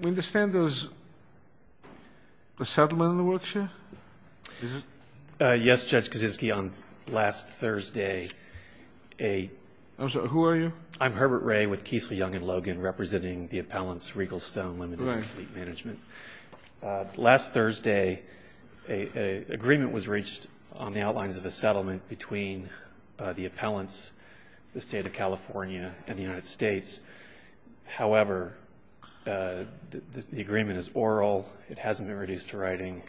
We understand there's a settlement in the workshare? Yes, Judge Kaczynski, on last Thursday a... I'm sorry, who are you? I'm Herbert Ray with Keisler, Young & Logan, representing the appellants Regal Stone Limited and Fleet Management. Last Thursday, an agreement was reached on the outlines of a settlement between the appellants, the State of California and the United States. However, the agreement is oral. It hasn't been reduced to writing.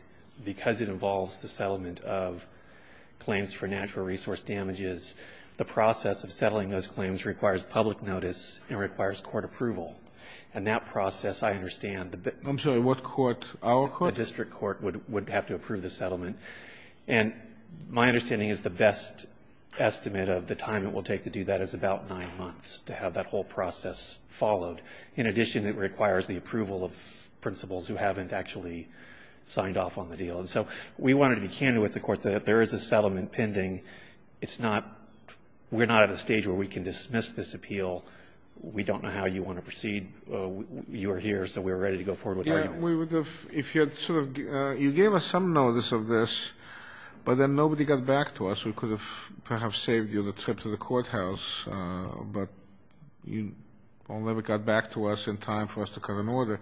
Because it involves the settlement of claims for natural resource damages, the process of settling those claims requires public notice and requires court approval. And that process, I understand... I'm sorry, what court? Our court? The district court would have to approve the settlement. And my understanding is the best estimate of the time it will take to do that is about nine months, to have that whole process followed. In addition, it requires the approval of principals who haven't actually signed off on the deal. And so we wanted to be candid with the court that if there is a settlement pending, it's not we're not at a stage where we can dismiss this appeal. We don't know how you want to proceed. You are here, so we are ready to go forward with the argument. You gave us some notice of this, but then nobody got back to us. We could have perhaps saved you the trip to the courthouse, but you never got back to us in time for us to come in order.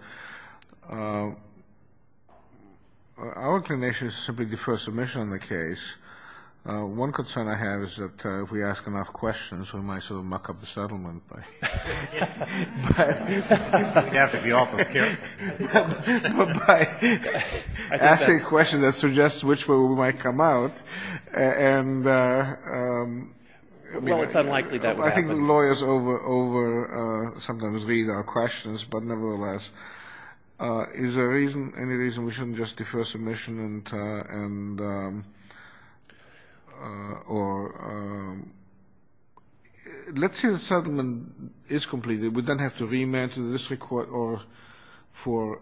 Our inclination is to simply defer submission on the case. One concern I have is that if we ask enough questions, we might sort of muck up the settlement. We'd have to be awful careful. By asking a question that suggests which way we might come out. Well, it's unlikely that would happen. I think lawyers sometimes read our questions, but nevertheless. Is there any reason we shouldn't just defer submission? Or let's say the settlement is completed. We don't have to remand to the district court for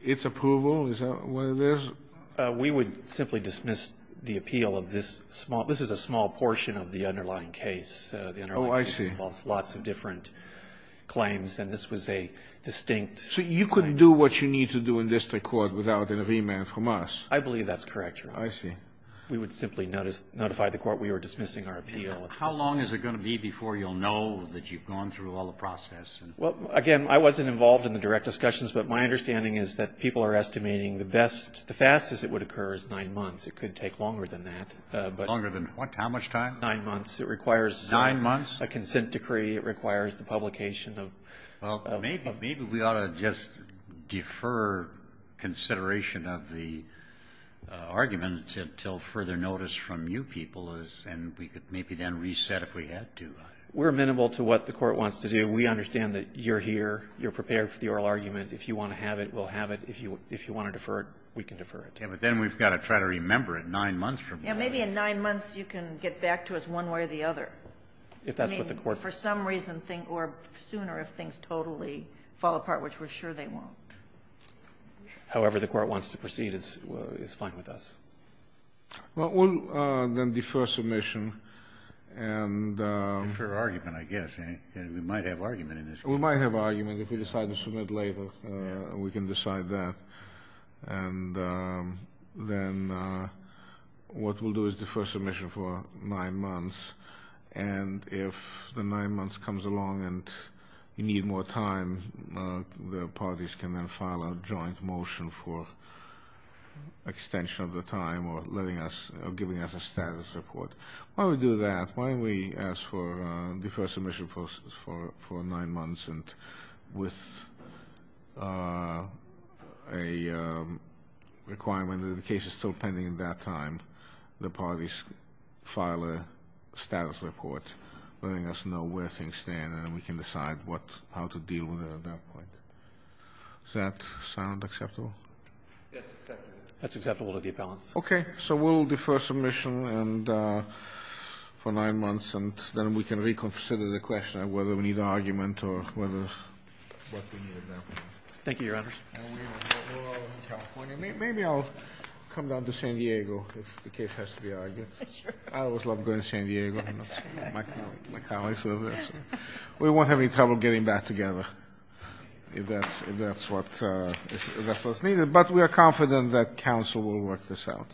its approval. We would simply dismiss the appeal of this small. This is a small portion of the underlying case. Oh, I see. Lots of different claims, and this was a distinct. So you couldn't do what you need to do in district court without a remand from us? I believe that's correct, Your Honor. I see. We would simply notify the court we were dismissing our appeal. How long is it going to be before you'll know that you've gone through all the process? Well, again, I wasn't involved in the direct discussions, but my understanding is that people are estimating the best, the fastest it would occur is nine months. It could take longer than that. Longer than what? How much time? Nine months. It requires a consent decree. Nine months? Maybe it requires the publication of the... Well, maybe we ought to just defer consideration of the argument until further notice from you people, and we could maybe then reset if we had to. We're amenable to what the Court wants to do. We understand that you're here. You're prepared for the oral argument. If you want to have it, we'll have it. If you want to defer it, we can defer it. Yeah, but then we've got to try to remember it nine months from now. Yeah, maybe in nine months you can get back to us one way or the other. If that's what the Court... So for some reason or sooner if things totally fall apart, which we're sure they won't. However the Court wants to proceed is fine with us. Well, we'll then defer submission and... Defer argument, I guess. We might have argument in this case. We might have argument. If we decide to submit later, we can decide that. And then what we'll do is defer submission for nine months. And if the nine months comes along and you need more time, the parties can then file a joint motion for extension of the time or giving us a status report. Why don't we do that? Why don't we ask for defer submission process for nine months with a requirement that the case is still pending at that time. The parties file a status report letting us know where things stand and then we can decide how to deal with it at that point. Does that sound acceptable? Yes, it's acceptable. That's acceptable to the appellants. Okay. So we'll defer submission for nine months and then we can reconsider the question of whether we need argument or whether... Thank you, Your Honors. Maybe I'll come down to San Diego if the case has to be argued. I always love going to San Diego. My colleagues live there. We won't have any trouble getting back together if that's what's needed. But we are confident that counsel will work this out.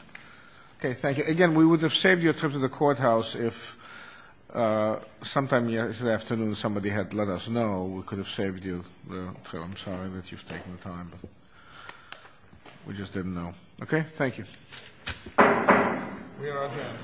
Okay, thank you. Again, we would have saved your trip to the courthouse if sometime this afternoon somebody had let us know, we could have saved you. I'm sorry that you've taken the time. We just didn't know. Okay, thank you. We are adjourned.